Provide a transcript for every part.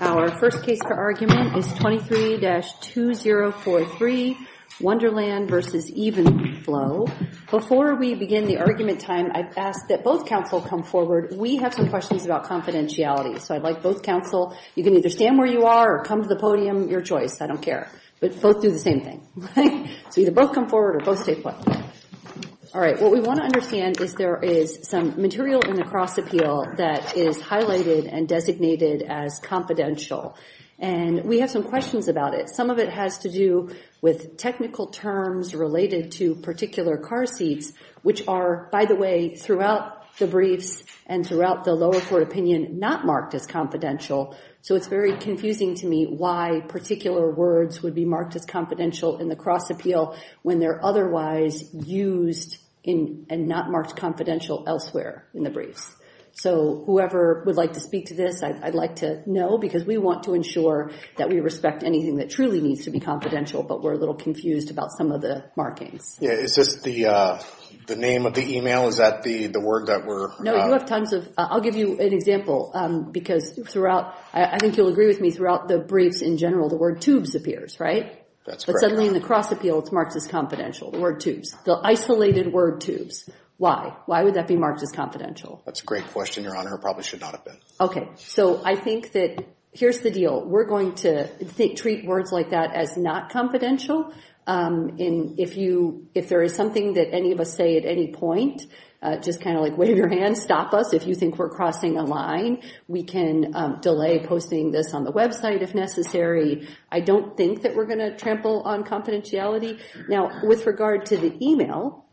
Our first case for argument is 23-2043 Wonderland v. Evenflo. Before we begin the argument time, I've asked that both counsel come forward. We have some questions about confidentiality. So I'd like both counsel, you can either stand where you are or come to the podium, your choice. I don't care. But both do the same thing. So either both come forward or both stay put. All right. What we want to understand is there is some material in the cross appeal that is highlighted and designated as confidential. And we have some questions about it. Some of it has to do with technical terms related to particular car seats, which are, by the way, throughout the briefs and throughout the lower court opinion, not marked as confidential. So it's very confusing to me why particular words would be marked as confidential in the cross appeal when they're otherwise used and not marked confidential elsewhere in the briefs. So whoever would like to speak to this, I'd like to know, because we want to ensure that we respect anything that truly needs to be confidential, but we're a little confused about some of the markings. Is this the name of the email? Is that the word that we're... No, you have tons of... I'll give you an example, because throughout... I think you'll agree with me, throughout the briefs in general, the word tubes appears, right? But suddenly in the cross appeal, it's marked as confidential, the word tubes, the isolated word tubes. Why? Why would that be marked as confidential? That's a great question, Your Honor. It probably should not have been. Okay. So I think that here's the deal. We're going to treat words like that as not confidential. If there is something that any of us say at any point, just kind of like wave your hand, stop us if you think we're crossing a line. We can delay posting this on the website if necessary. I don't think that we're going to trample on confidentiality. Now, with regard to the email,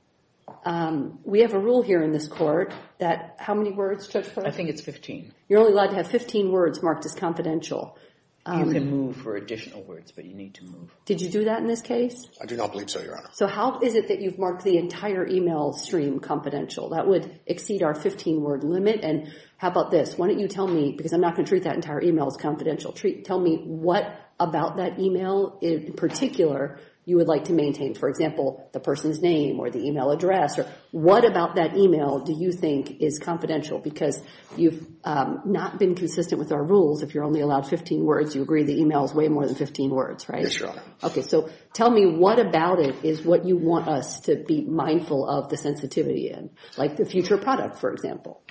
we have a rule here in this court that... How many words, Judge Flanagan? I think it's 15. You're only allowed to have 15 words marked as confidential. You can move for additional words, but you need to move. Did you do that in this case? I do not believe so, Your Honor. So how is it that you've marked the entire email stream confidential? That would exceed our 15-word limit. And how about this? Why don't you tell me, because I'm not going to treat that entire email as confidential, tell me what about that email in particular you would like to maintain. For example, the person's name or the email address. What about that email do you think is confidential? Because you've not been consistent with our rules. If you're only allowed 15 words, you agree the email is way more than 15 words, right? Yes, Your Honor. Okay, so tell me what about it is what you want us to be mindful of the sensitivity in. Like the future product, for example.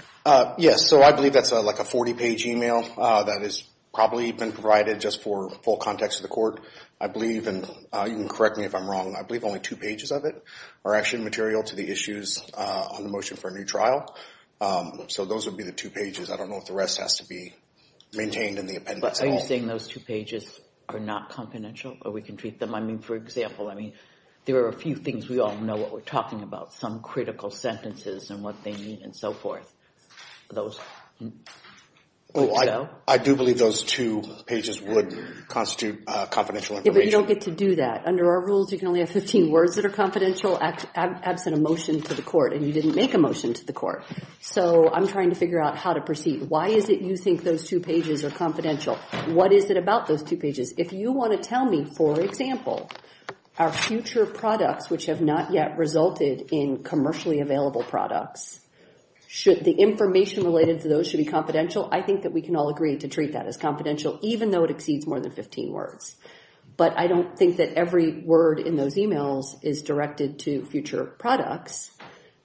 Yes, so I believe that's like a 40-page email. That has probably been provided just for full context of the court. I believe, and you can correct me if I'm wrong, I believe only two pages of it are actually material to the issues on the motion for a new trial. So those would be the two pages. I don't know if the rest has to be maintained in the appendix at all. Are you saying those two pages are not confidential or we can treat them? I mean, for example, there are a few things we all know what we're talking about. Some critical sentences and what they mean and so forth. Those. I do believe those two pages would constitute confidential information. Yeah, but you don't get to do that. Under our rules, you can only have 15 words that are confidential absent a motion to the court and you didn't make a motion to the court. So I'm trying to figure out how to proceed. Why is it you think those two pages are confidential? What is it about those two pages? If you want to tell me, for example, our future products which have not yet resulted in commercially available products, should the information related to those should be confidential? I think that we can all agree to treat that as confidential even though it exceeds more than 15 words. But I don't think that every word in those emails is directed to future products.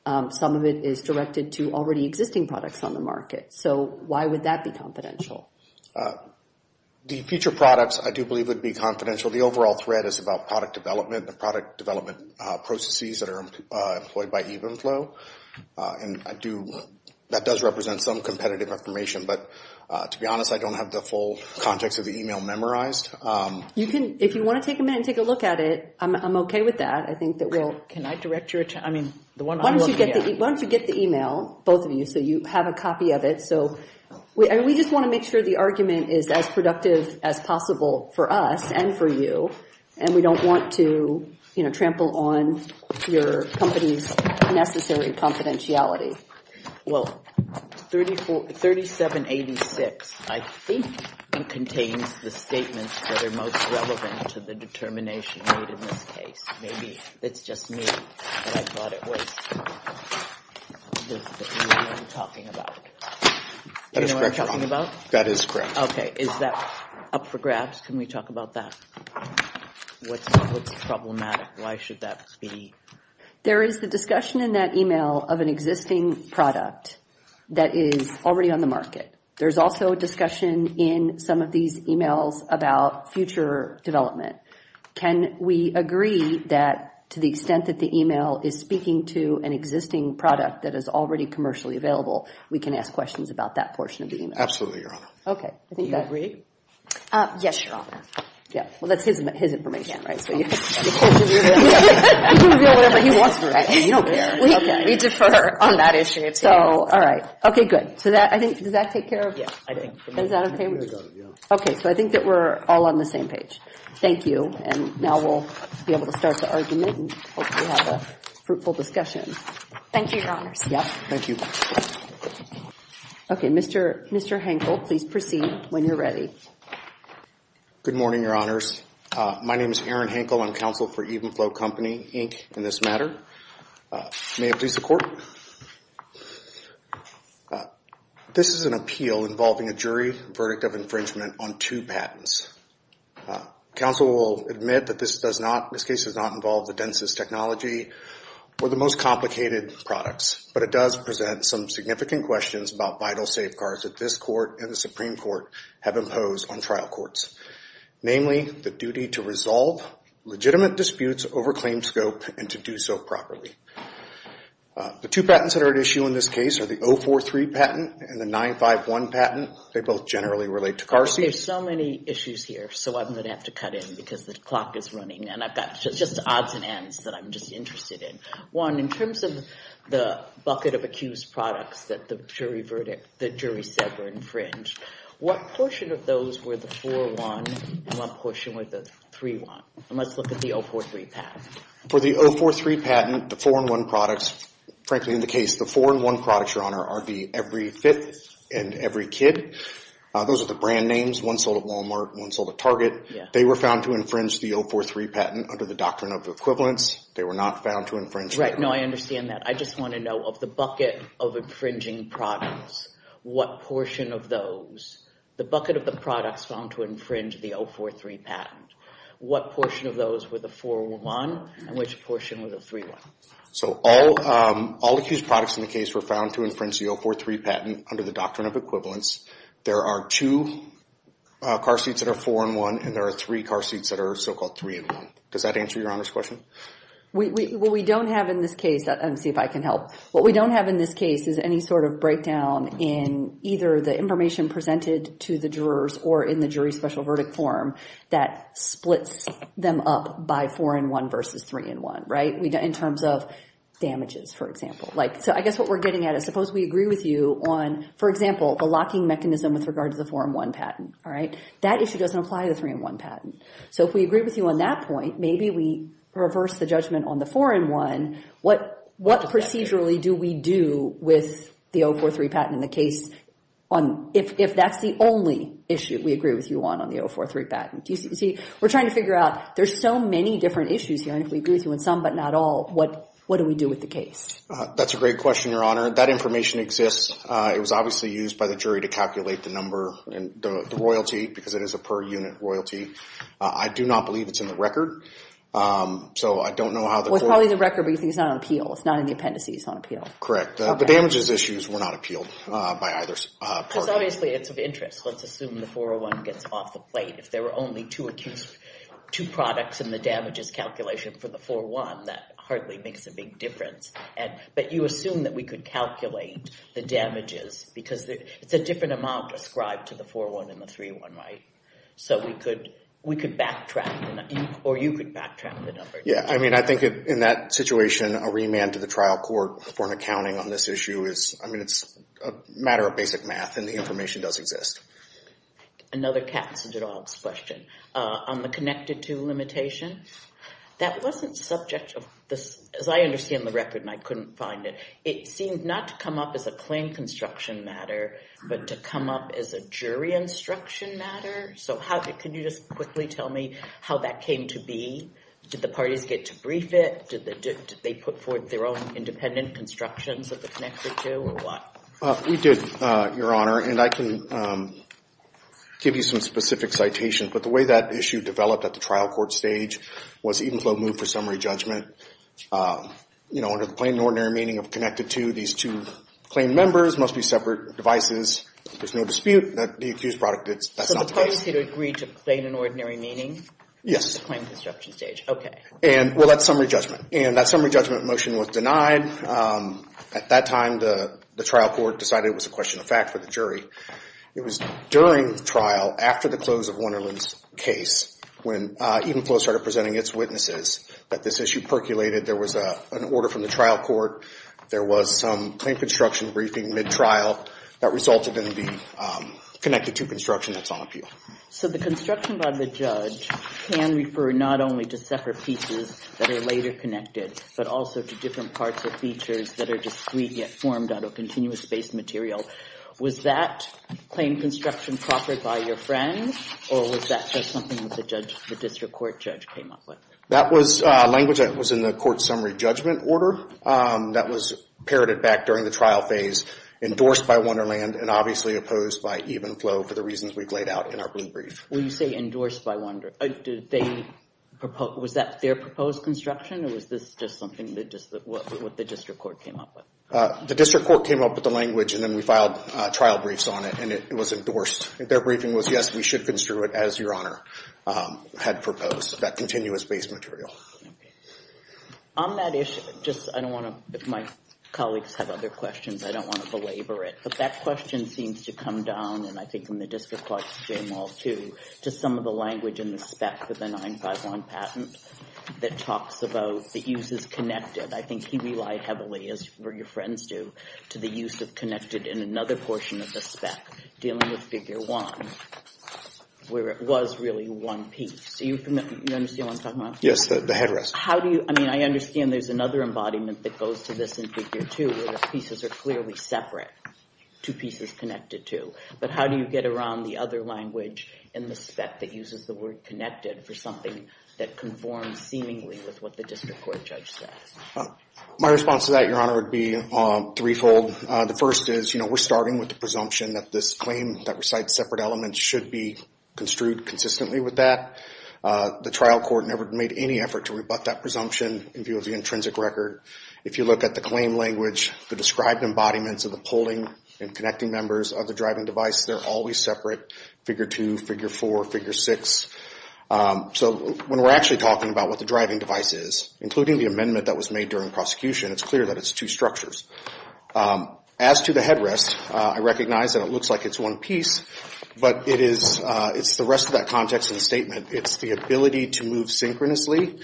Some of it is directed to already existing products on the market. So why would that be confidential? The future products I do believe would be confidential. The overall thread is about product development and the product development processes that are employed by Evenflow. And that does represent some competitive information. But to be honest, I don't have the full context of the email memorized. If you want to take a minute and take a look at it, I'm okay with that. Can I direct your attention? Why don't you get the email, both of you, so you have a copy of it. We just want to make sure the argument is as productive as possible for us and for you. And we don't want to trample on your company's necessary confidentiality. Well, 3786, I think, contains the statements that are most relevant to the determination made in this case. Maybe it's just me, but I thought it was the email I'm talking about. That is correct. Okay, is that up for grabs? Can we talk about that? What's problematic? Why should that be? There is the discussion in that email of an existing product that is already on the market. There's also a discussion in some of these emails about future development. Can we agree that to the extent that the email is speaking to an existing product that is already commercially available, we can ask questions about that portion of the email? Absolutely, Your Honor. Okay. Do you agree? Yes, Your Honor. Yeah. Well, that's his information, right? So you can reveal whatever he wants to reveal. You don't care. We defer on that issue. So, all right. Okay, good. So that, I think, does that take care of it? I think. Is that okay? Okay, so I think that we're all on the same page. Thank you. And now we'll be able to start the argument and hopefully have a fruitful discussion. Thank you, Your Honors. Yep. Thank you. Okay, Mr. Hankel, please proceed when you're ready. Good morning, Your Honors. My name is Aaron Hankel. I'm counsel for Evenflow Company, Inc., in this matter. May it please the Court. This is an appeal involving a jury verdict of infringement on two patents. Counsel will admit that this case does not involve the densest technology or the most complicated products, but it does present some significant questions about vital safeguards that this Court and the Supreme Court have imposed on trial courts, namely the duty to resolve legitimate disputes over claim scope and to do so properly. The two patents that are at issue in this case are the 043 patent and the 951 patent. They both generally relate to car seats. There's so many issues here, so I'm going to have to cut in because the clock is running, and I've got just odds and ends that I'm just interested in. Juan, in terms of the bucket of accused products that the jury said were infringed, what portion of those were the 4-1 and what portion were the 3-1? And let's look at the 043 patent. For the 043 patent, the 4-1 products, frankly in the case, the 4-1 products, Your Honor, are the Every Fifth and Every Kid. Those are the brand names. One sold at Walmart, one sold at Target. They were found to infringe the 043 patent under the doctrine of equivalence. They were not found to infringe. Right. No, I understand that. I just want to know of the bucket of infringing products, what portion of those, the bucket of the products found to infringe the 043 patent, what portion of those were the 4-1 and which portion were the 3-1? So all accused products in the case were found to infringe the 043 patent under the doctrine of equivalence. There are two car seats that are 4-1, and there are three car seats that are so-called 3-1. Does that answer Your Honor's question? What we don't have in this case, let me see if I can help, what we don't have in this case is any sort of breakdown in either the information presented to the jurors or in the jury special verdict form that splits them up by 4-1 versus 3-1, right? In terms of damages, for example. So I guess what we're getting at is suppose we agree with you on, for example, the locking mechanism with regard to the 4-1 patent, all right? That issue doesn't apply to the 3-1 patent. So if we agree with you on that point, maybe we reverse the judgment on the 4-1. What procedurally do we do with the 043 patent in the case if that's the only issue we agree with you on on the 043 patent? See, we're trying to figure out there's so many different issues here, and if we agree with you on some but not all, what do we do with the case? That's a great question, Your Honor. That information exists. It was obviously used by the jury to calculate the number and the royalty because it is a per-unit royalty. I do not believe it's in the record, so I don't know how the court— Well, it's probably in the record, but you think it's not on appeal. It's not in the appendices on appeal. Correct. The damages issues were not appealed by either party. Because obviously it's of interest. Let's assume the 401 gets off the plate. If there were only two products in the damages calculation for the 4-1, that hardly makes a big difference. But you assume that we could calculate the damages because it's a different amount ascribed to the 4-1 and the 3-1, right? So we could backtrack, or you could backtrack the number. Yeah, I mean, I think in that situation, a remand to the trial court for an accounting on this issue is—I mean, it's a matter of basic math, and the information does exist. Another cats and dogs question. On the connected to limitation, that wasn't subject to— as I understand the record, and I couldn't find it, it seemed not to come up as a claim construction matter, but to come up as a jury instruction matter? So how—can you just quickly tell me how that came to be? Did the parties get to brief it? Did they put forth their own independent constructions of the connected to, or what? We did, Your Honor, and I can give you some specific citations. But the way that issue developed at the trial court stage was Edenflow moved for summary judgment. You know, under the plain and ordinary meaning of connected to, these two claim members must be separate devices. There's no dispute that the accused brought it. That's not the case. So the parties had agreed to plain and ordinary meaning? Yes. At the claim construction stage. Okay. Well, that's summary judgment, and that summary judgment motion was denied. At that time, the trial court decided it was a question of fact for the jury. It was during trial, after the close of Wonderland's case, when Edenflow started presenting its witnesses, that this issue percolated. There was an order from the trial court. There was some claim construction briefing mid-trial that resulted in the connected to construction that's on appeal. So the construction by the judge can refer not only to separate pieces that are later connected, but also to different parts of features that are discrete yet formed out of continuous-based material. Was that claim construction proffered by your friends, or was that just something that the district court judge came up with? That was language that was in the court summary judgment order that was parroted back during the trial phase, endorsed by Wonderland, and obviously opposed by Edenflow for the reasons we've laid out in our brief. When you say endorsed by Wonderland, was that their proposed construction, or was this just something that the district court came up with? The district court came up with the language, and then we filed trial briefs on it, and it was endorsed. Their briefing was, yes, we should construe it as Your Honor had proposed, that continuous-based material. On that issue, just I don't want to, if my colleagues have other questions, I don't want to belabor it, but that question seems to come down, and I think from the district court's jam-all too, to some of the language in the spec for the 951 patent that talks about the use as connected. I think he relied heavily, as your friends do, to the use of connected in another portion of the spec, dealing with Figure 1, where it was really one piece. Do you understand what I'm talking about? Yes, the headrest. How do you, I mean, I understand there's another embodiment that goes to this in Figure 2, where the pieces are clearly separate, two pieces connected to. But how do you get around the other language in the spec that uses the word connected for something that conforms seemingly with what the district court judge says? My response to that, Your Honor, would be threefold. The first is we're starting with the presumption that this claim that recites separate elements should be construed consistently with that. The trial court never made any effort to rebut that presumption in view of the intrinsic record. If you look at the claim language, the described embodiments of the pulling and connecting members of the driving device, they're always separate, Figure 2, Figure 4, Figure 6. So when we're actually talking about what the driving device is, including the amendment that was made during prosecution, it's clear that it's two structures. As to the headrest, I recognize that it looks like it's one piece, but it's the rest of that context in the statement. It's the ability to move synchronously.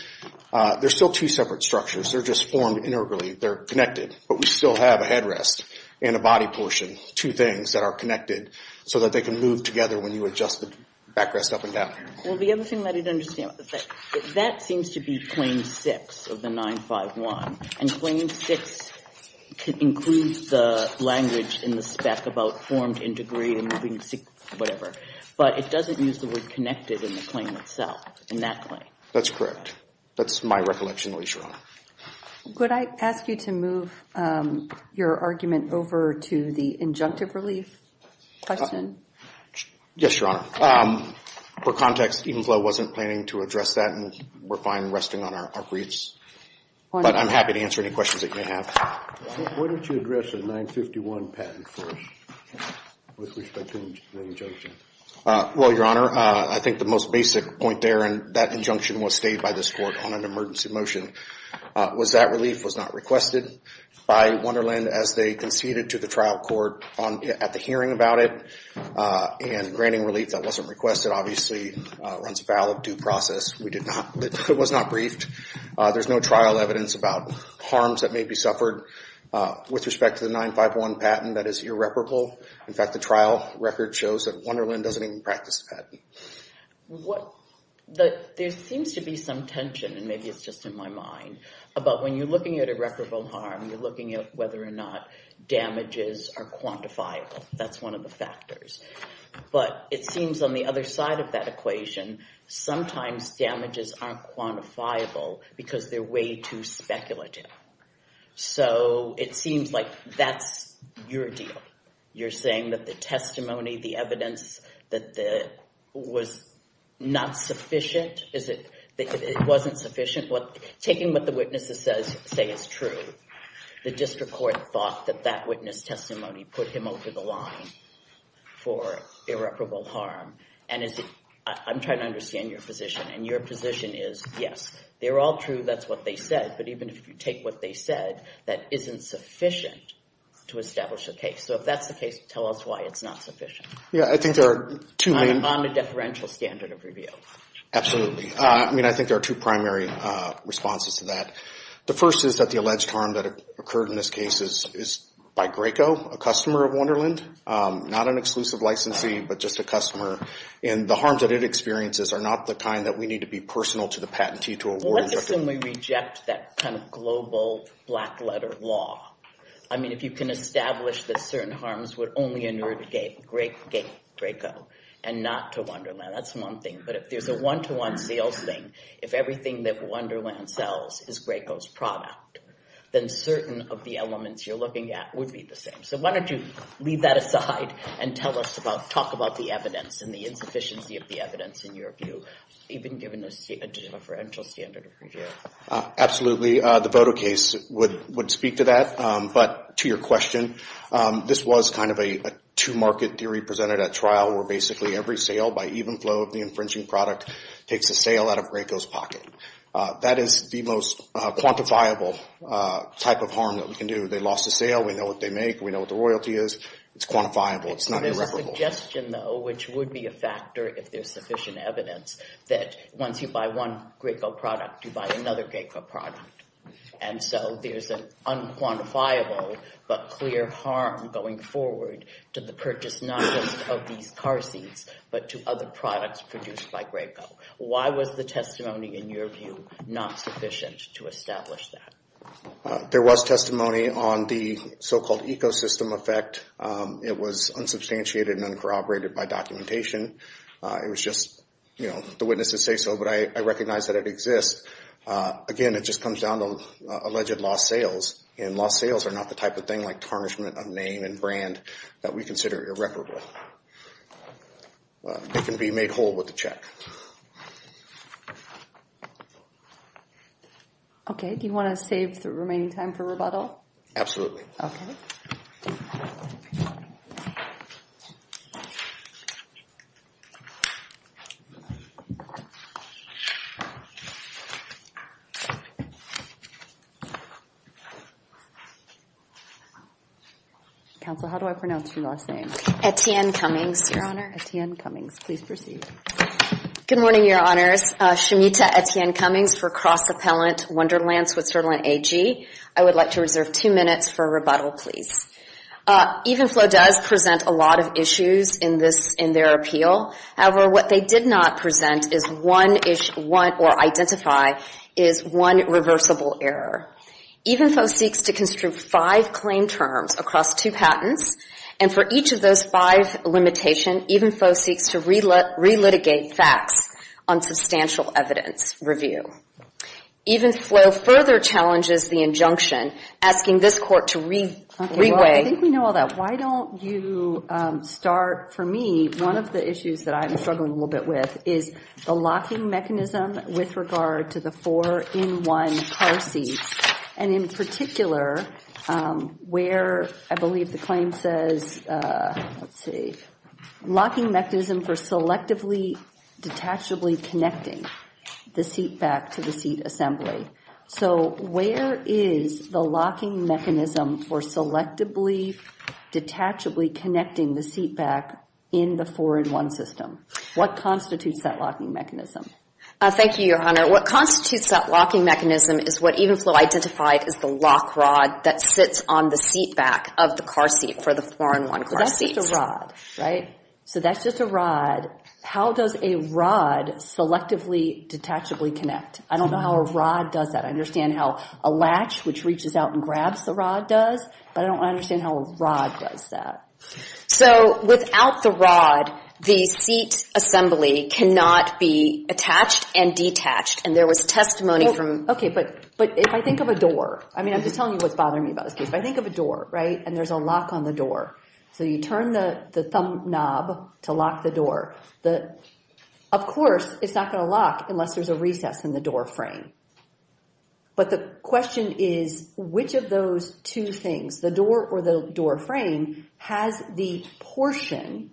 They're still two separate structures. They're just formed integrally. They're connected. But we still have a headrest and a body portion, two things that are connected so that they can move together when you adjust the backrest up and down. Well, the other thing that I didn't understand about the fact that that seems to be Claim 6 of the 951. And Claim 6 includes the language in the spec about formed, integrated, moving, whatever. But it doesn't use the word connected in the claim itself, in that claim. That's correct. That's my recollection, Your Honor. Could I ask you to move your argument over to the injunctive relief question? Yes, Your Honor. For context, Edenflow wasn't planning to address that, and we're fine resting on our briefs. But I'm happy to answer any questions that you may have. Why don't you address the 951 patent first with respect to the injunction? Well, Your Honor, I think the most basic point there, and that injunction was stayed by this Court on an emergency motion, was that relief was not requested by Wonderland as they conceded to the trial court at the hearing about it and granting relief that wasn't requested, obviously, runs a foul of due process. It was not briefed. There's no trial evidence about harms that may be suffered. With respect to the 951 patent, that is irreparable. In fact, the trial record shows that Wonderland doesn't even practice the patent. There seems to be some tension, and maybe it's just in my mind, about when you're looking at irreparable harm, you're looking at whether or not damages are quantifiable. That's one of the factors. But it seems on the other side of that equation, sometimes damages aren't quantifiable because they're way too speculative. So it seems like that's your deal. You're saying that the testimony, the evidence, was not sufficient? It wasn't sufficient? Taking what the witnesses say is true, the district court thought that that witness testimony put him over the line for irreparable harm. And I'm trying to understand your position, and your position is yes, they're all true, that's what they said, but even if you take what they said, that isn't sufficient to establish a case. So if that's the case, tell us why it's not sufficient. Yeah, I think there are two main— On the deferential standard of review. Absolutely. I mean, I think there are two primary responses to that. The first is that the alleged harm that occurred in this case is by Graco, a customer of Wonderland. Not an exclusive licensee, but just a customer. And the harms that it experiences are not the kind that we need to be personal to the patentee to award— Well, let's assume we reject that kind of global, black-letter law. I mean, if you can establish that certain harms would only inurt Graco and not to Wonderland, that's one thing. But if there's a one-to-one sales thing, if everything that Wonderland sells is Graco's product, then certain of the elements you're looking at would be the same. So why don't you leave that aside and tell us about— talk about the evidence and the insufficiency of the evidence in your view, even given the deferential standard of review. Absolutely. The Voto case would speak to that. But to your question, this was kind of a two-market theory presented at trial, where basically every sale by even flow of the infringing product takes a sale out of Graco's pocket. That is the most quantifiable type of harm that we can do. They lost a sale. We know what they make. We know what the royalty is. It's quantifiable. It's not irreparable. There's a suggestion, though, which would be a factor if there's sufficient evidence, that once you buy one Graco product, you buy another Graco product. And so there's an unquantifiable but clear harm going forward to the purchase, not just of these car seats, but to other products produced by Graco. Why was the testimony, in your view, not sufficient to establish that? There was testimony on the so-called ecosystem effect. It was unsubstantiated and uncorroborated by documentation. It was just, you know, the witnesses say so, but I recognize that it exists. Again, it just comes down to alleged lost sales, and lost sales are not the type of thing like tarnishment of name and brand that we consider irreparable. It can be made whole with a check. Okay. Do you want to save the remaining time for rebuttal? Absolutely. Okay. Counsel, how do I pronounce your last name? Etienne Cummings, Your Honor. Etienne Cummings. Please proceed. Good morning, Your Honors. Shamita Etienne Cummings for Cross Appellant Wonderland Switzerland AG. I would like to reserve two minutes for rebuttal, please. Evenflo does present a lot of issues in their appeal. However, what they did not present is one or identify is one reversible error. Evenflo seeks to construe five claim terms across two patents, and for each of those five limitations, Evenflo seeks to relitigate facts on substantial evidence review. Evenflo further challenges the injunction, asking this Court to reweigh. Okay. Well, I think we know all that. Why don't you start, for me, one of the issues that I'm struggling a little bit with is the locking mechanism with regard to the four-in-one car seats, and in particular, where I believe the claim says, let's see, locking mechanism for selectively, detachably connecting the seat back to the seat assembly. So where is the locking mechanism for selectively, detachably connecting the seat back in the four-in-one system? What constitutes that locking mechanism? Thank you, Your Honor. What constitutes that locking mechanism is what Evenflo identified as the lock rod that sits on the seat back of the car seat for the four-in-one car seats. So that's just a rod, right? So that's just a rod. How does a rod selectively, detachably connect? I don't know how a rod does that. I understand how a latch, which reaches out and grabs the rod, does, but I don't understand how a rod does that. So without the rod, the seat assembly cannot be attached and detached, and there was testimony from... Okay, but if I think of a door, I mean, I'm just telling you what's bothering me about this case. If I think of a door, right, and there's a lock on the door, so you turn the thumb knob to lock the door, of course it's not going to lock unless there's a recess in the door frame. But the question is, which of those two things, the door or the door frame, has the portion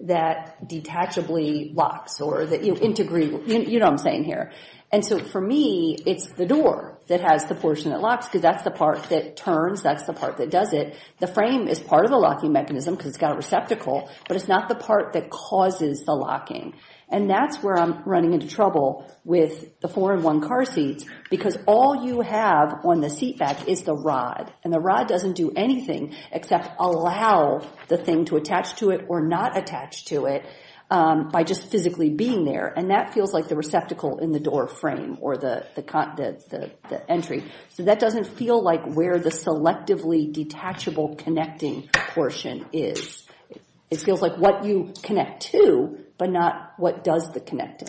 that detachably locks or that you integrate? You know what I'm saying here. And so for me, it's the door that has the portion that locks because that's the part that turns. That's the part that does it. The frame is part of the locking mechanism because it's got a receptacle, but it's not the part that causes the locking. And that's where I'm running into trouble with the 4-in-1 car seats because all you have on the seat back is the rod, and the rod doesn't do anything except allow the thing to attach to it or not attach to it by just physically being there, and that feels like the receptacle in the door frame or the entry. So that doesn't feel like where the selectively detachable connecting portion is. It feels like what you connect to but not what does the connecting.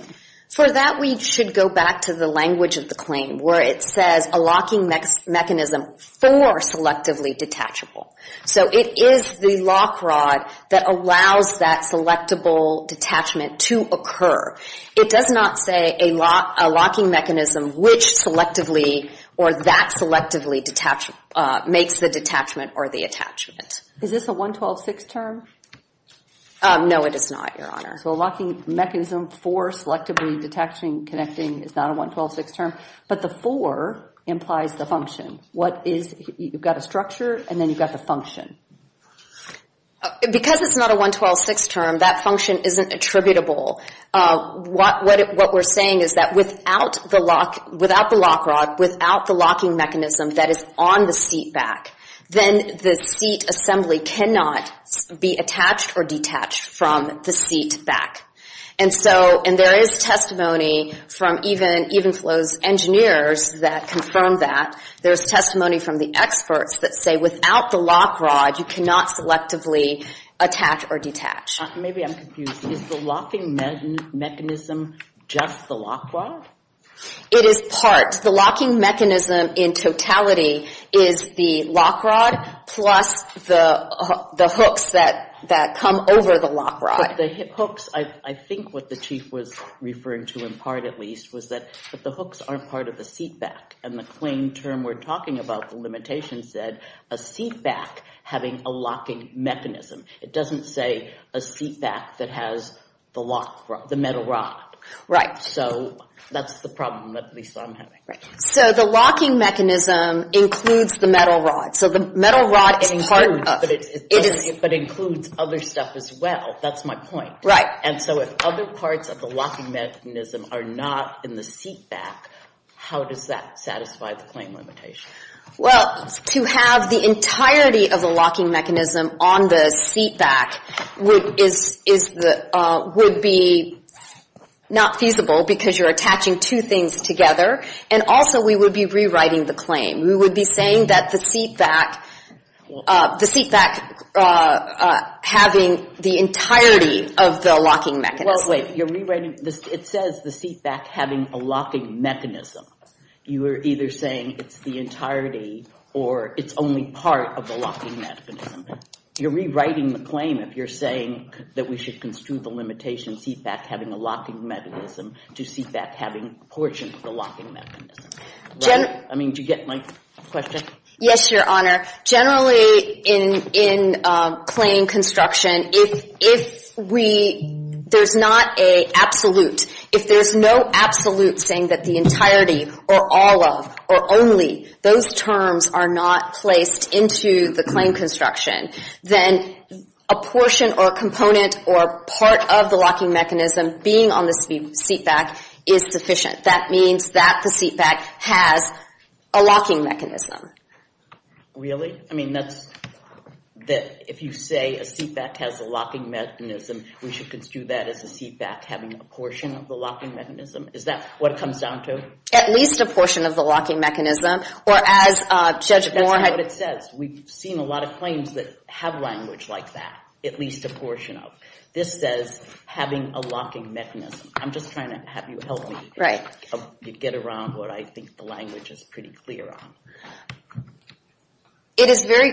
For that, we should go back to the language of the claim where it says a locking mechanism for selectively detachable. So it is the lock rod that allows that selectable detachment to occur. It does not say a locking mechanism which selectively or that selectively makes the detachment or the attachment. Is this a 112.6 term? No, it is not, Your Honor. So a locking mechanism for selectively detaching, connecting is not a 112.6 term, but the 4 implies the function. You've got a structure, and then you've got the function. Because it's not a 112.6 term, that function isn't attributable. What we're saying is that without the lock rod, without the locking mechanism that is on the seat back, then the seat assembly cannot be attached or detached from the seat back. And there is testimony from Evenflo's engineers that confirm that. There is testimony from the experts that say without the lock rod, you cannot selectively attach or detach. Maybe I'm confused. Is the locking mechanism just the lock rod? It is part. The locking mechanism in totality is the lock rod plus the hooks that come over the lock rod. But the hooks, I think what the Chief was referring to in part, at least, was that the hooks aren't part of the seat back. And the claim term we're talking about, the limitation said, a seat back having a locking mechanism. It doesn't say a seat back that has the metal rod. So that's the problem that at least I'm having. Right. So the locking mechanism includes the metal rod. So the metal rod is part of it. It includes, but it includes other stuff as well. That's my point. Right. And so if other parts of the locking mechanism are not in the seat back, how does that satisfy the claim limitation? Well, to have the entirety of the locking mechanism on the seat back would be not feasible because you're attaching two things together. And also we would be rewriting the claim. We would be saying that the seat back having the entirety of the locking mechanism. Well, wait. You're rewriting. It says the seat back having a locking mechanism. You are either saying it's the entirety or it's only part of the locking mechanism. You're rewriting the claim if you're saying that we should construe the limitation seat back having a locking mechanism to seat back having a portion of the locking mechanism. Right. I mean, do you get my question? Yes, Your Honor. Generally in claim construction, if we, there's not an absolute. If there's no absolute saying that the entirety or all of or only, those terms are not placed into the claim construction, then a portion or component or part of the locking mechanism being on the seat back is sufficient. That means that the seat back has a locking mechanism. Really? I mean, that's, if you say a seat back has a locking mechanism, we should construe that as a seat back having a portion of the locking mechanism. Is that what it comes down to? At least a portion of the locking mechanism, or as Judge Warren had. That's not what it says. We've seen a lot of claims that have language like that, at least a portion of. This says having a locking mechanism. I'm just trying to have you help me get around what I think the language is pretty clear on. It is very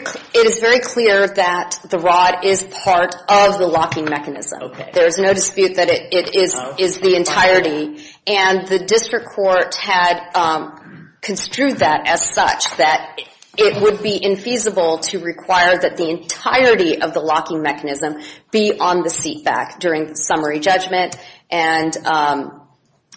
clear that the rod is part of the locking mechanism. There's no dispute that it is the entirety. And the district court had construed that as such, that it would be infeasible to require that the entirety of the locking mechanism be on the seat back during summary judgment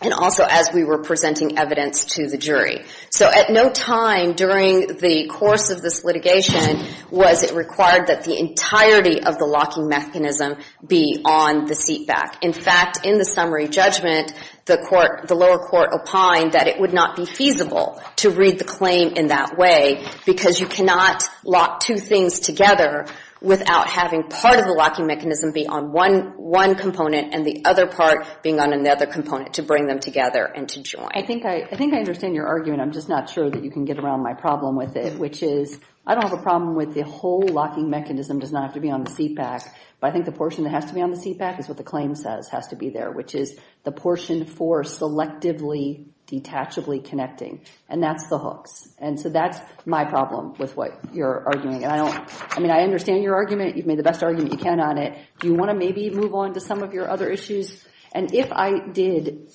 and also as we were presenting evidence to the jury. So at no time during the course of this litigation was it required that the entirety of the locking mechanism be on the seat back. In fact, in the summary judgment, the lower court opined that it would not be feasible to read the claim in that way because you cannot lock two things together without having part of the locking mechanism be on one component and the other part being on another component to bring them together and to join. I think I understand your argument. I'm just not sure that you can get around my problem with it, which is I don't have a problem with the whole locking mechanism does not have to be on the seat back. But I think the portion that has to be on the seat back is what the claim says has to be there, which is the portion for selectively, detachably connecting. And that's the hooks. And so that's my problem with what you're arguing. I mean, I understand your argument. You've made the best argument you can on it. Do you want to maybe move on to some of your other issues? And if I did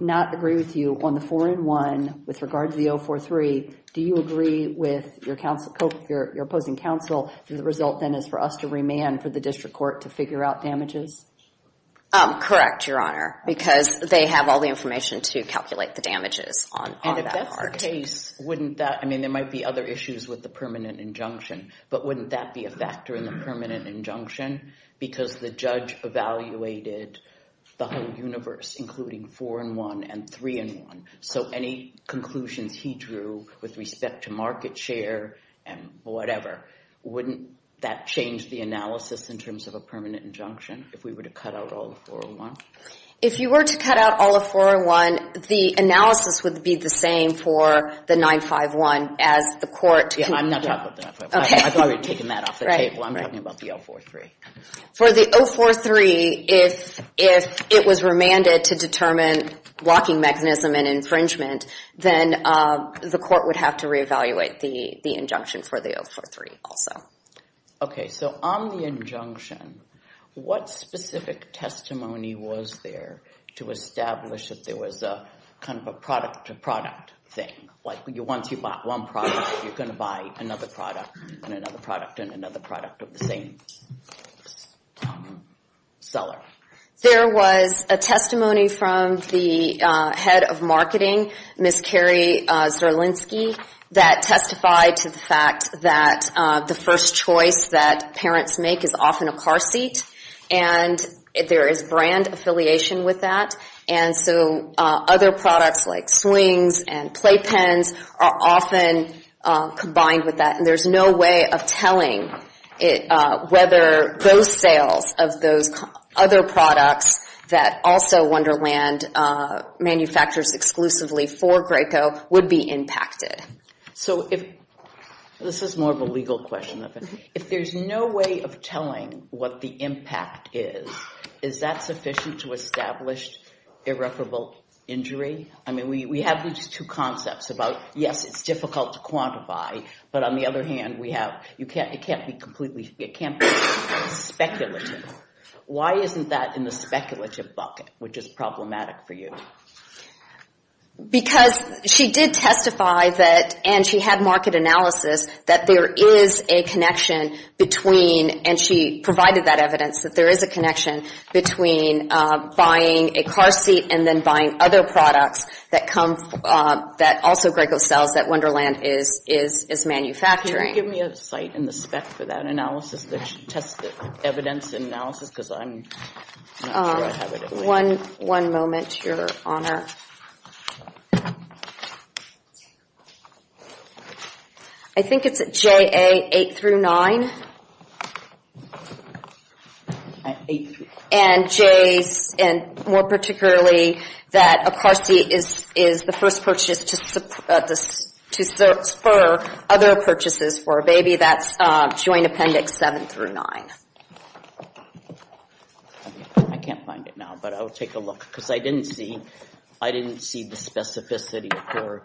not agree with you on the 4-in-1 with regard to the 043, do you agree with your opposing counsel that the result then is for us to remand for the district court to figure out damages? Correct, Your Honor, because they have all the information to calculate the damages on that part. And if that's the case, wouldn't that – I mean, there might be other issues with the permanent injunction, but wouldn't that be a factor in the permanent injunction? Because the judge evaluated the whole universe, including 4-in-1 and 3-in-1. So any conclusions he drew with respect to market share and whatever, wouldn't that change the analysis in terms of a permanent injunction if we were to cut out all of 4-in-1? If you were to cut out all of 4-in-1, the analysis would be the same for the 951 as the court – Yeah, I'm not talking about the 951. I've already taken that off the table. I'm talking about the 043. For the 043, if it was remanded to determine blocking mechanism and infringement, then the court would have to reevaluate the injunction for the 043 also. Okay, so on the injunction, what specific testimony was there to establish that there was a kind of a product-to-product thing? Like once you bought one product, you're going to buy another product and another product and another product of the same seller. There was a testimony from the head of marketing, Ms. Carrie Zerlinski, that testified to the fact that the first choice that parents make is often a car seat, and there is brand affiliation with that, and so other products like swings and play pens are often combined with that, and there's no way of telling whether those sales of those other products that also Wonderland manufactures exclusively for Graco would be impacted. So this is more of a legal question. If there's no way of telling what the impact is, is that sufficient to establish irreparable injury? I mean, we have these two concepts about, yes, it's difficult to quantify, but on the other hand, it can't be completely speculative. Why isn't that in the speculative bucket, which is problematic for you? Because she did testify that, and she had market analysis, that there is a connection between, and she provided that evidence, that there is a connection between buying a car seat and then buying other products that also Graco sells that Wonderland is manufacturing. Can you give me a site and the spec for that analysis that tests the evidence and analysis, because I'm not sure I have it. One moment, Your Honor. I think it's JA 8 through 9. And J's, and more particularly that a car seat is the first purchase to spur other purchases for a baby. That's Joint Appendix 7 through 9. I can't find it now, but I will take a look, because I didn't see the specificity.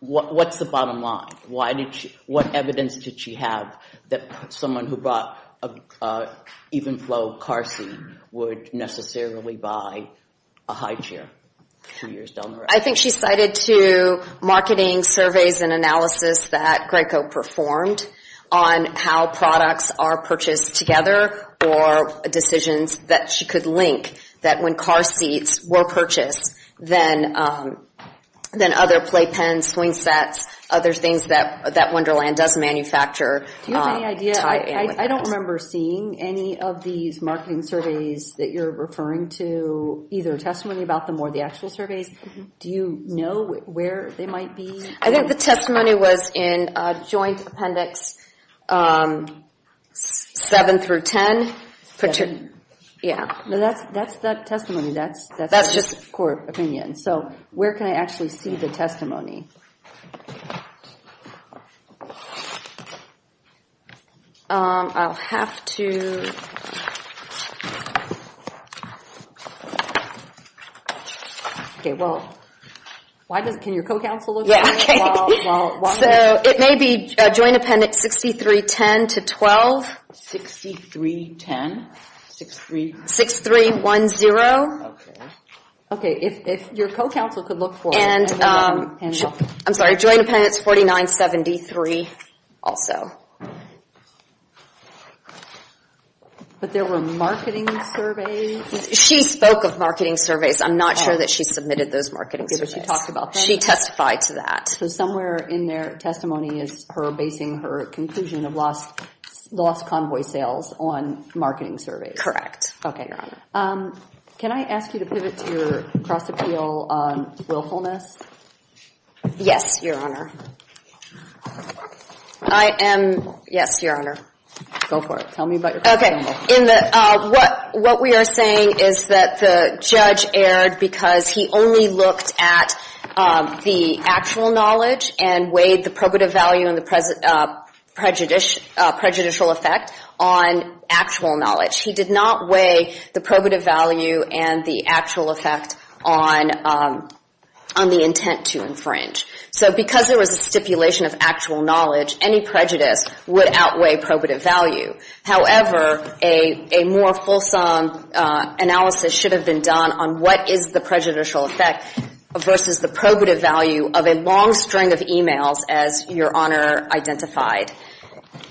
What's the bottom line? What evidence did she have that someone who bought an Evenflo car seat would necessarily buy a high chair two years down the road? I think she cited two marketing surveys and analysis that Graco performed on how products are purchased together or decisions that she could link that when car seats were purchased, then other play pens, swing sets, other things that Wonderland does manufacture tie in with that. I don't remember seeing any of these marketing surveys that you're referring to, either testimony about them or the actual surveys. Do you know where they might be? I think the testimony was in Joint Appendix 7 through 10. Yeah, that's the testimony. That's just court opinion. So where can I actually see the testimony? I'll have to... Okay, well, can your co-counsel look at it? So it may be Joint Appendix 6310 to 12. 6310? 6310? Okay, if your co-counsel could look for it. I'm sorry, Joint Appendix 4973 also. But there were marketing surveys? She spoke of marketing surveys. I'm not sure that she submitted those marketing surveys. She testified to that. So somewhere in their testimony is her basing her conclusion of lost convoy sales on marketing surveys. Okay. Can I ask you to pivot to your cross-appeal willfulness? Yes, Your Honor. I am, yes, Your Honor. Go for it. Tell me about your cross-appeal. What we are saying is that the judge erred because he only looked at the actual knowledge and weighed the probative value and the prejudicial effect on actual knowledge. He did not weigh the probative value and the actual effect on the intent to infringe. So because there was a stipulation of actual knowledge, any prejudice would outweigh probative value. However, a more fulsome analysis should have been done on what is the prejudicial effect versus the probative value of a long string of e-mails, as Your Honor identified.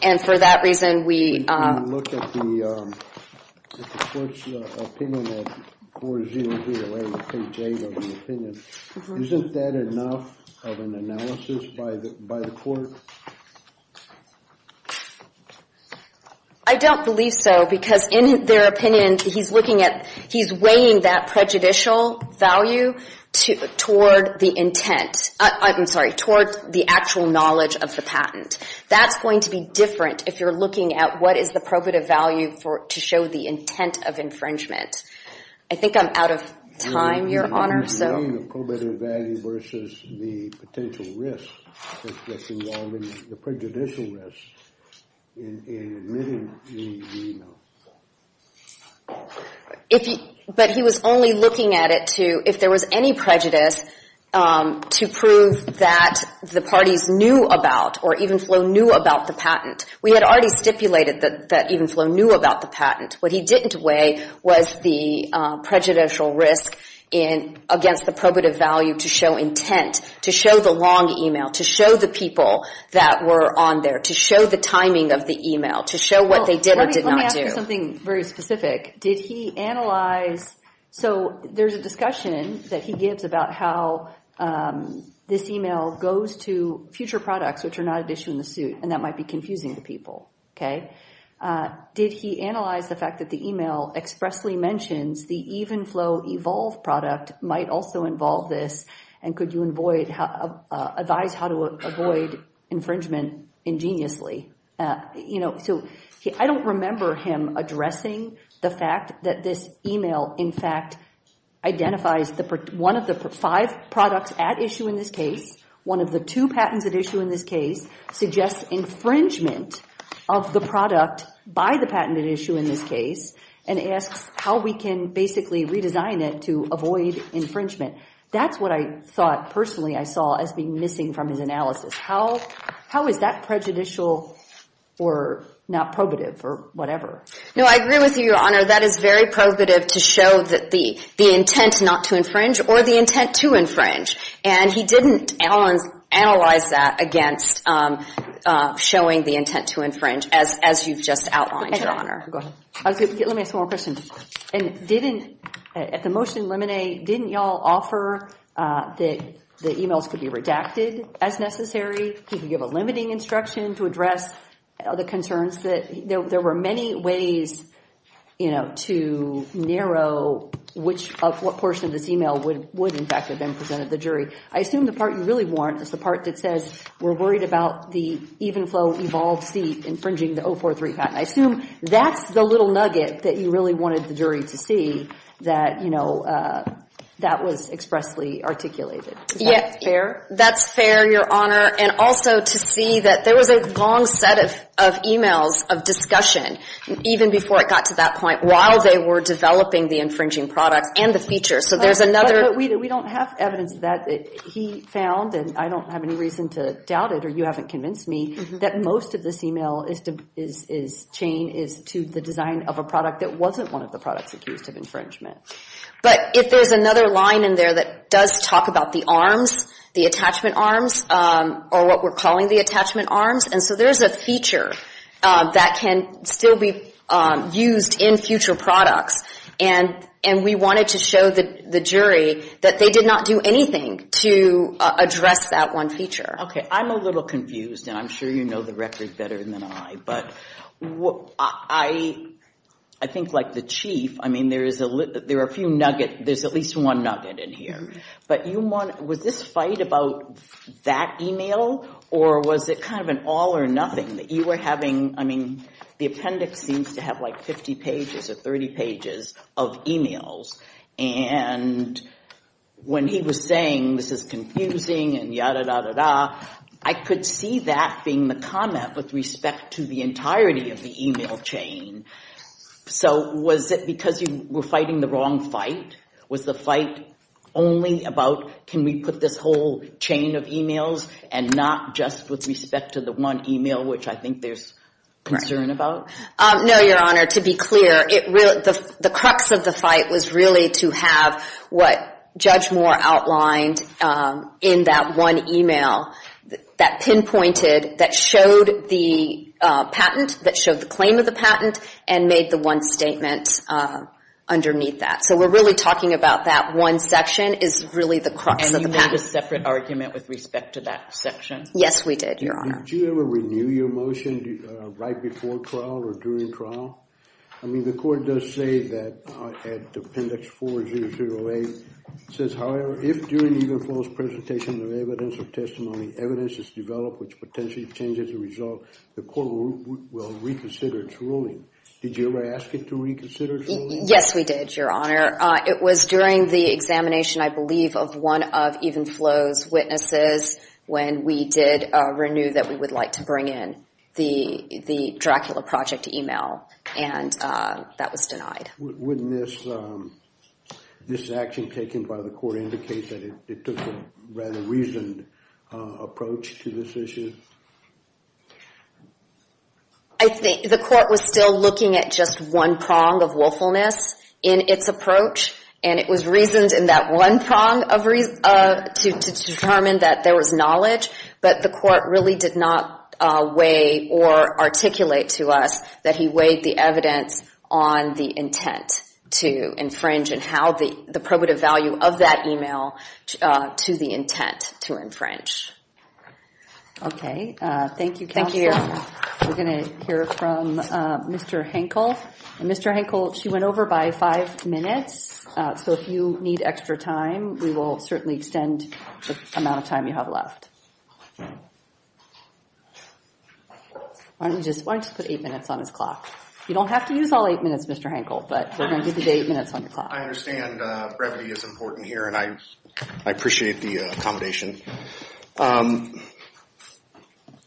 And for that reason, we… When you look at the court's opinion at 40308, the page 8 of the opinion, isn't that enough of an analysis by the court? I don't believe so because in their opinion, he's weighing that prejudicial value toward the intent. I'm sorry, toward the actual knowledge of the patent. That's going to be different if you're looking at what is the probative value to show the intent of infringement. I think I'm out of time, Your Honor, so… versus the potential risk that's involved in the prejudicial risk in admitting the e-mail. But he was only looking at it to, if there was any prejudice, to prove that the parties knew about or even Flo knew about the patent. We had already stipulated that even Flo knew about the patent. What he didn't weigh was the prejudicial risk against the probative value to show intent, to show the long e-mail, to show the people that were on there, to show the timing of the e-mail, to show what they did or did not do. Let me ask you something very specific. Did he analyze… So there's a discussion that he gives about how this e-mail goes to future products, which are not an issue in the suit, and that might be confusing to people, okay? Did he analyze the fact that the e-mail expressly mentions the even Flo Evolve product might also involve this, and could you advise how to avoid infringement ingeniously? You know, so I don't remember him addressing the fact that this e-mail, in fact, identifies one of the five products at issue in this case. One of the two patents at issue in this case suggests infringement of the product by the patent at issue in this case and asks how we can basically redesign it to avoid infringement. That's what I thought personally I saw as being missing from his analysis. How is that prejudicial or not probative or whatever? No, I agree with you, Your Honor. That is very probative to show the intent not to infringe or the intent to infringe, and he didn't analyze that against showing the intent to infringe, as you've just outlined, Your Honor. Go ahead. Let me ask one more question. At the motion in limine, didn't y'all offer that the e-mails could be redacted as necessary? He could give a limiting instruction to address the concerns that there were many ways, you know, to narrow which portion of this e-mail would, in fact, have been presented to the jury. I assume the part you really want is the part that says we're worried about the Evenflo Evolve seat infringing the 043 patent. I assume that's the little nugget that you really wanted the jury to see that, you know, that was expressly articulated. Is that fair? That's fair, Your Honor, and also to see that there was a long set of e-mails of discussion even before it got to that point. While they were developing the infringing product and the feature. So there's another. But we don't have evidence that he found, and I don't have any reason to doubt it, or you haven't convinced me, that most of this e-mail chain is to the design of a product that wasn't one of the products accused of infringement. But if there's another line in there that does talk about the arms, the attachment arms, or what we're calling the attachment arms, and so there's a feature that can still be used in future products, and we wanted to show the jury that they did not do anything to address that one feature. Okay. I'm a little confused, and I'm sure you know the record better than I, but I think like the chief, I mean, there are a few nuggets. There's at least one nugget in here. But was this fight about that e-mail, or was it kind of an all or nothing that you were having, I mean, the appendix seems to have like 50 pages or 30 pages of e-mails. And when he was saying this is confusing and yada, yada, yada, I could see that being the comment with respect to the entirety of the e-mail chain. So was it because you were fighting the wrong fight? Was the fight only about can we put this whole chain of e-mails and not just with respect to the one e-mail, which I think there's concern about? No, Your Honor. To be clear, the crux of the fight was really to have what Judge Moore outlined in that one e-mail that pinpointed, that showed the patent, that showed the claim of the patent, and made the one statement underneath that. So we're really talking about that one section is really the crux of the patent. And you made a separate argument with respect to that section? Yes, we did, Your Honor. Did you ever renew your motion right before trial or during trial? I mean, the court does say that at appendix 4008, it says, however, if during either false presentation of evidence or testimony, evidence is developed which potentially changes the result, the court will reconsider its ruling. Did you ever ask it to reconsider its ruling? Yes, we did, Your Honor. It was during the examination, I believe, of one of even Flo's witnesses when we did renew that we would like to bring in the Dracula Project e-mail, and that was denied. Wouldn't this action taken by the court indicate that it took a rather reasoned approach to this issue? I think the court was still looking at just one prong of willfulness in its approach, and it was reasoned in that one prong to determine that there was knowledge, but the court really did not weigh or articulate to us that he weighed the evidence on the intent to infringe and how the probative value of that e-mail to the intent to infringe. Okay. Thank you, counsel. Thank you, Your Honor. We're going to hear from Mr. Henkel. Mr. Henkel, she went over by five minutes, so if you need extra time, we will certainly extend the amount of time you have left. Why don't you just put eight minutes on his clock? You don't have to use all eight minutes, Mr. Henkel, but we're going to give you eight minutes on your clock. I understand brevity is important here, and I appreciate the accommodation.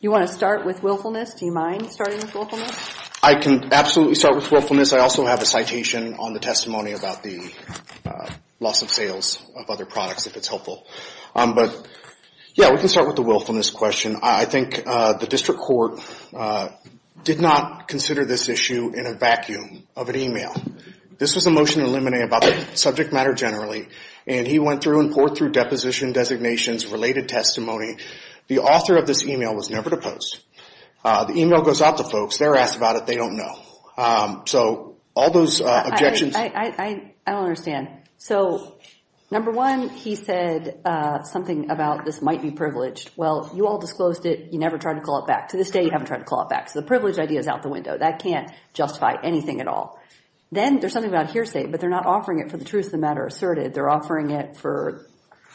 You want to start with willfulness? Do you mind starting with willfulness? I can absolutely start with willfulness. I also have a citation on the testimony about the loss of sales of other products, if it's helpful. But, yeah, we can start with the willfulness question. I think the district court did not consider this issue in a vacuum of an e-mail. This was a motion to eliminate about the subject matter generally, and he went through and poured through deposition designations, related testimony. The author of this e-mail was never to post. The e-mail goes out to folks. They're asked about it. They don't know. So all those objections. I don't understand. So, number one, he said something about this might be privileged. Well, you all disclosed it. You never tried to call it back. To this day, you haven't tried to call it back. So the privilege idea is out the window. That can't justify anything at all. Then there's something about hearsay, but they're not offering it for the truth of the matter asserted. They're offering it for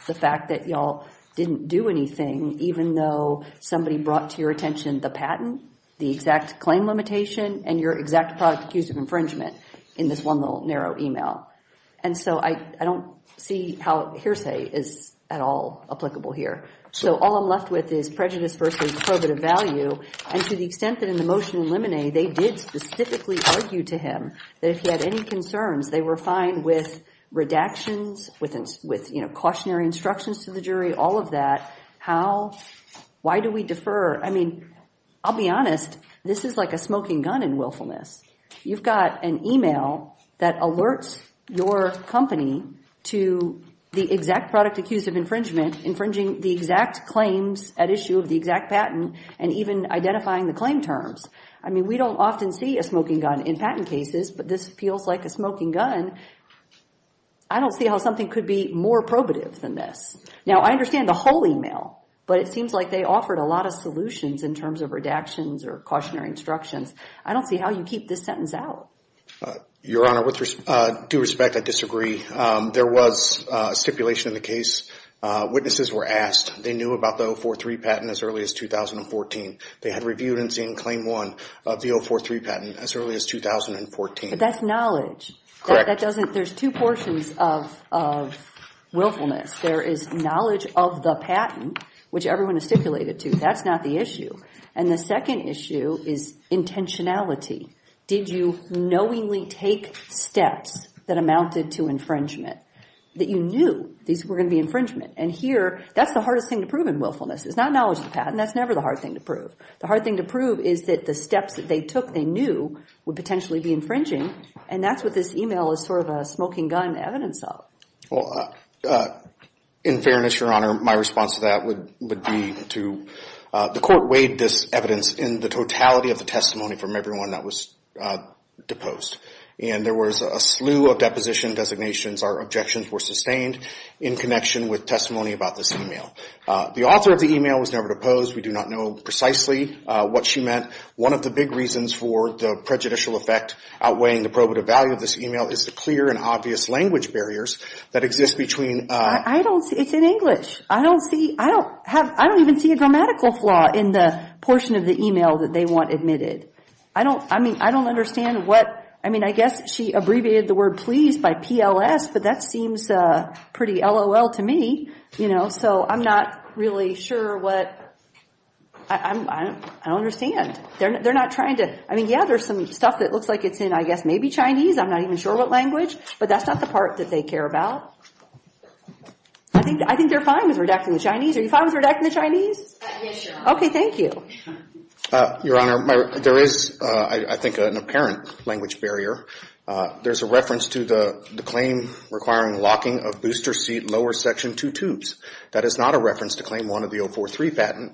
the fact that you all didn't do anything, even though somebody brought to your attention the patent, the exact claim limitation, and your exact product accused of infringement in this one little narrow e-mail. And so I don't see how hearsay is at all applicable here. So all I'm left with is prejudice versus probative value. And to the extent that in the motion in Limine, they did specifically argue to him that if he had any concerns, they were fine with redactions, with cautionary instructions to the jury, all of that. How? Why do we defer? I mean, I'll be honest. This is like a smoking gun in willfulness. You've got an e-mail that alerts your company to the exact product accused of infringement, infringing the exact claims at issue of the exact patent, and even identifying the claim terms. I mean, we don't often see a smoking gun in patent cases, but this feels like a smoking gun. I don't see how something could be more probative than this. Now, I understand the whole e-mail, but it seems like they offered a lot of solutions in terms of redactions or cautionary instructions. I don't see how you keep this sentence out. Your Honor, with due respect, I disagree. There was stipulation in the case. Witnesses were asked. They knew about the 043 patent as early as 2014. They had reviewed and seen Claim 1 of the 043 patent as early as 2014. But that's knowledge. Correct. There's two portions of willfulness. There is knowledge of the patent, which everyone is stipulated to. That's not the issue. And the second issue is intentionality. Did you knowingly take steps that amounted to infringement, that you knew these were going to be infringement? And here, that's the hardest thing to prove in willfulness. It's not knowledge of the patent. That's never the hard thing to prove. The hard thing to prove is that the steps that they took, they knew, would potentially be infringing, and that's what this e-mail is sort of a smoking gun evidence of. Well, in fairness, Your Honor, my response to that would be to, The court weighed this evidence in the totality of the testimony from everyone that was deposed. And there was a slew of deposition designations. Our objections were sustained in connection with testimony about this e-mail. The author of the e-mail was never deposed. We do not know precisely what she meant. One of the big reasons for the prejudicial effect outweighing the probative value of this e-mail is the clear and obvious language barriers that exist between I don't see. It's in English. I don't see. I don't even see a grammatical flaw in the portion of the e-mail that they want admitted. I mean, I don't understand what. I mean, I guess she abbreviated the word please by PLS, but that seems pretty LOL to me. You know, so I'm not really sure what. I don't understand. They're not trying to. I mean, yeah, there's some stuff that looks like it's in, I guess, maybe Chinese. I'm not even sure what language. But that's not the part that they care about. I think they're fine with redacting the Chinese. Are you fine with redacting the Chinese? Yes, Your Honor. Okay. Thank you. Your Honor, there is, I think, an apparent language barrier. There's a reference to the claim requiring locking of booster seat lower section two tubes. That is not a reference to claim one of the 043 patent.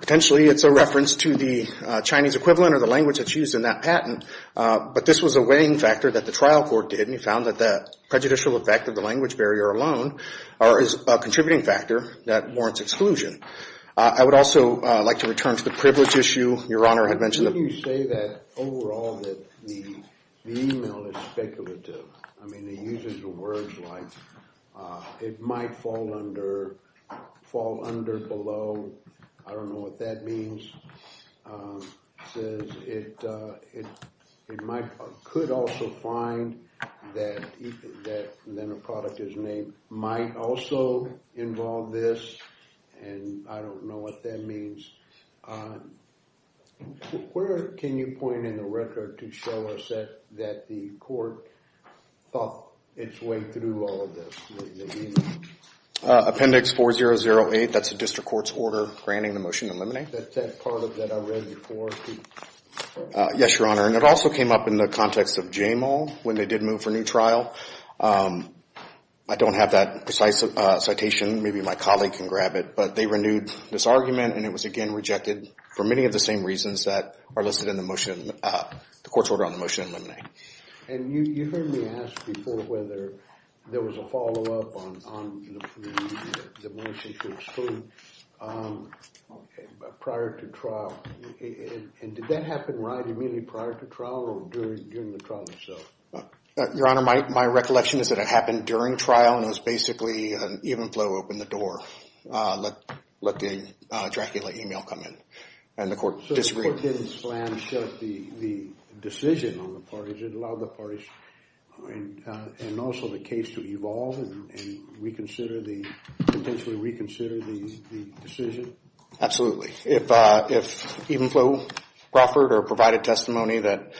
Potentially, it's a reference to the Chinese equivalent or the language that's used in that patent, but this was a weighing factor that the trial court did, and they found that the prejudicial effect of the language barrier alone is a contributing factor that warrants exclusion. I would also like to return to the privilege issue Your Honor had mentioned. You say that overall that the email is speculative. I mean, it uses the words like it might fall under, fall under, below. I don't know what that means. It says it could also find that then a product is named might also involve this, and I don't know what that means. Where can you point in the record to show us that the court thought its way through all of this, the email? Appendix 4008, that's the district court's order granting the motion to eliminate. I think that's that part of that I read before. Yes, Your Honor, and it also came up in the context of Jamal when they did move for a new trial. I don't have that precise citation. Maybe my colleague can grab it, but they renewed this argument, and it was again rejected for many of the same reasons that are listed in the motion, the court's order on the motion to eliminate. And you heard me ask before whether there was a follow-up on the motion to exclude. Prior to trial, and did that happen right immediately prior to trial or during the trial itself? Your Honor, my recollection is that it happened during trial, and it was basically an even flow opened the door, let the Dracula email come in, and the court disagreed. So the court didn't slam shut the decision on the parties. It allowed the parties and also the case to evolve and reconsider the, potentially reconsider the decision. If even flow offered or provided testimony that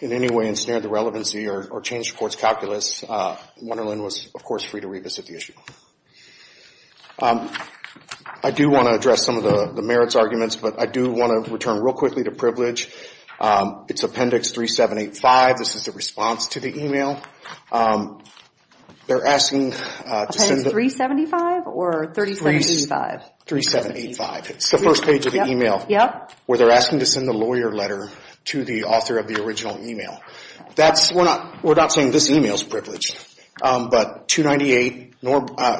in any way ensnared the relevancy or changed the court's calculus, Wunderlin was, of course, free to revisit the issue. I do want to address some of the merits arguments, but I do want to return real quickly to privilege. It's Appendix 3785. This is the response to the email. They're asking to send the... Appendix 375 or 3785? 3785. It's the first page of the email where they're asking to send the lawyer letter to the author of the original email. We're not saying this email is privilege, but 298,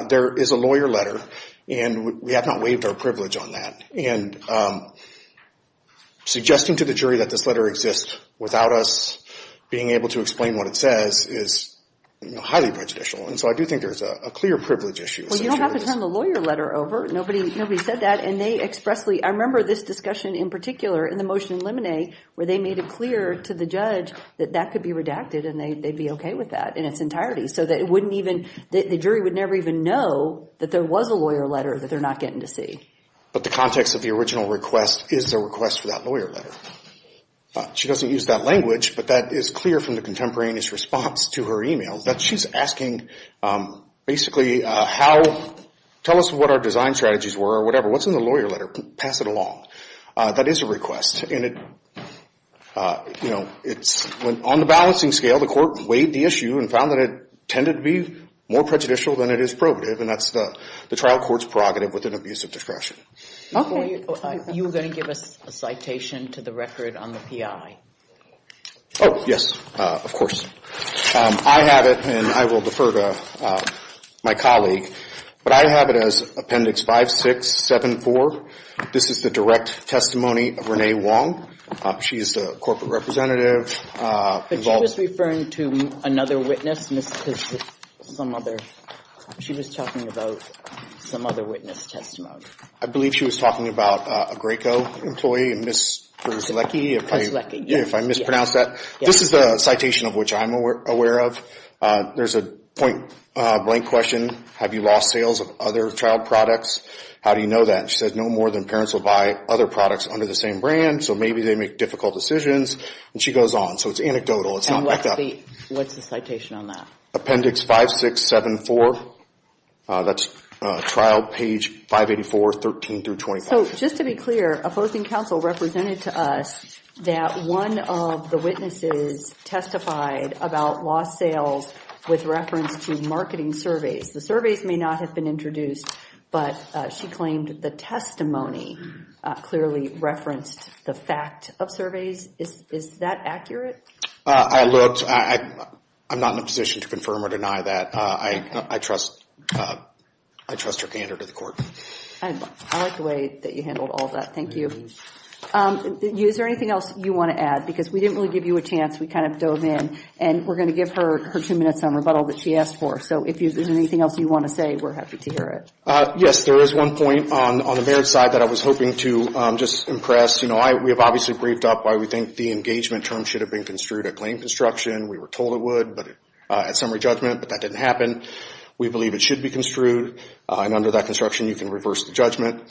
there is a lawyer letter, and we have not waived our privilege on that. And suggesting to the jury that this letter exists without us being able to is highly prejudicial. And so I do think there's a clear privilege issue. Well, you don't have to turn the lawyer letter over. Nobody said that. And they expressly... I remember this discussion in particular in the motion in Lemonet where they made it clear to the judge that that could be redacted and they'd be okay with that in its entirety so that it wouldn't even... the jury would never even know that there was a lawyer letter that they're not getting to see. But the context of the original request is a request for that lawyer letter. She doesn't use that language, but that is clear from the contemporaneous response to her email that she's asking basically how... tell us what our design strategies were or whatever. What's in the lawyer letter? Pass it along. That is a request. And, you know, on the balancing scale, the court weighed the issue and found that it tended to be more prejudicial than it is probative, and that's the trial court's prerogative with an abuse of discretion. Okay. You were going to give us a citation to the record on the PI. Oh, yes. Of course. I have it, and I will defer to my colleague. But I have it as Appendix 5674. This is the direct testimony of Renee Wong. She is the corporate representative. But she was referring to another witness, some other. She was talking about some other witness testimony. I believe she was talking about a Graco employee, Ms. Berzlecki. Berzlecki, yes. If I mispronounced that. This is the citation of which I'm aware of. There's a blank question, have you lost sales of other trial products? How do you know that? She says no more than parents will buy other products under the same brand, so maybe they make difficult decisions. And she goes on. So it's anecdotal. It's not backed up. And what's the citation on that? Appendix 5674. That's trial page 584, 13 through 25. So just to be clear, opposing counsel represented to us that one of the witnesses testified about lost sales with reference to marketing surveys. The surveys may not have been introduced, but she claimed the testimony clearly referenced the fact of surveys. Is that accurate? I looked. I'm not in a position to confirm or deny that. I trust her candor to the court. I like the way that you handled all of that. Thank you. Is there anything else you want to add? Because we didn't really give you a chance. We kind of dove in. And we're going to give her two minutes on rebuttal that she asked for. So if there's anything else you want to say, we're happy to hear it. Yes, there is one point on the merits side that I was hoping to just impress. We have obviously briefed up why we think the engagement term should have been construed a claimed construction. We were told it would at summary judgment, but that didn't happen. We believe it should be construed. And under that construction, you can reverse the judgment.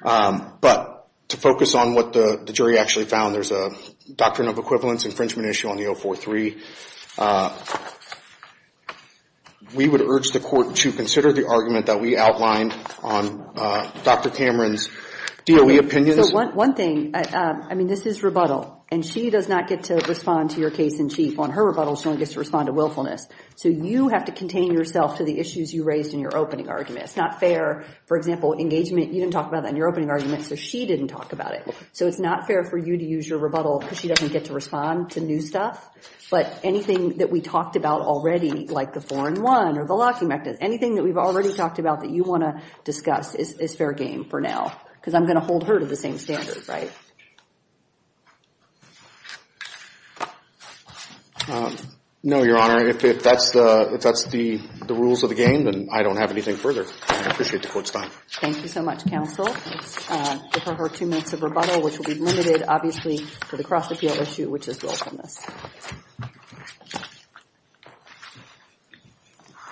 But to focus on what the jury actually found, there's a doctrine of equivalence infringement issue on the 043. We would urge the court to consider the argument that we outlined on Dr. Cameron's DOE opinions. One thing, I mean, this is rebuttal. And she does not get to respond to your case in chief. On her rebuttal, she only gets to respond to willfulness. So you have to contain yourself to the issues you raised in your opening argument. It's not fair. For example, engagement, you didn't talk about that in your opening argument, so she didn't talk about it. So it's not fair for you to use your rebuttal because she doesn't get to respond to new stuff. But anything that we talked about already, like the 4-1 or the locking mechanism, anything that we've already talked about that you want to discuss is fair game for now because I'm going to hold her to the same standards, right? No, Your Honor. If that's the rules of the game, then I don't have anything further. I appreciate the court's time. Thank you so much, counsel. I defer her two minutes of rebuttal, which will be limited, obviously, to the cross-appeal issue, which is willfulness.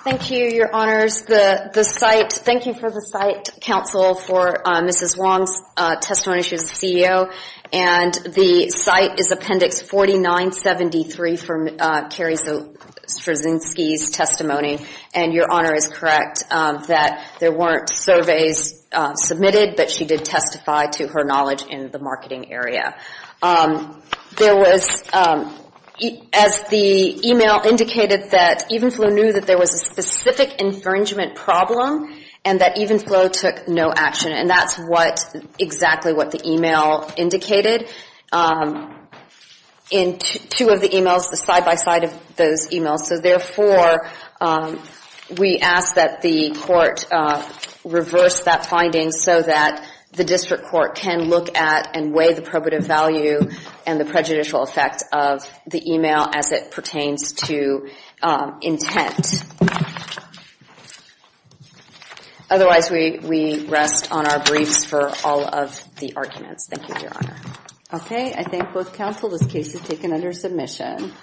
Thank you, Your Honors. The site, thank you for the site, counsel, for Mrs. Wong's testimony. She's the CEO. And the site is Appendix 4973 from Carrie Straczynski's testimony, and Your Honor is correct that there weren't surveys submitted, but she did testify to her knowledge in the marketing area. There was, as the email indicated, that Evenflo knew that there was a specific infringement problem and that Evenflo took no action. And that's exactly what the email indicated in two of the emails, the side-by-side of those emails. So, therefore, we ask that the court reverse that finding so that the district court can look at and weigh the probative value and the prejudicial effect of the email as it pertains to intent. Otherwise, we rest on our briefs for all of the arguments. Thank you, Your Honor. Okay. I thank both counsel. This case is taken under submission.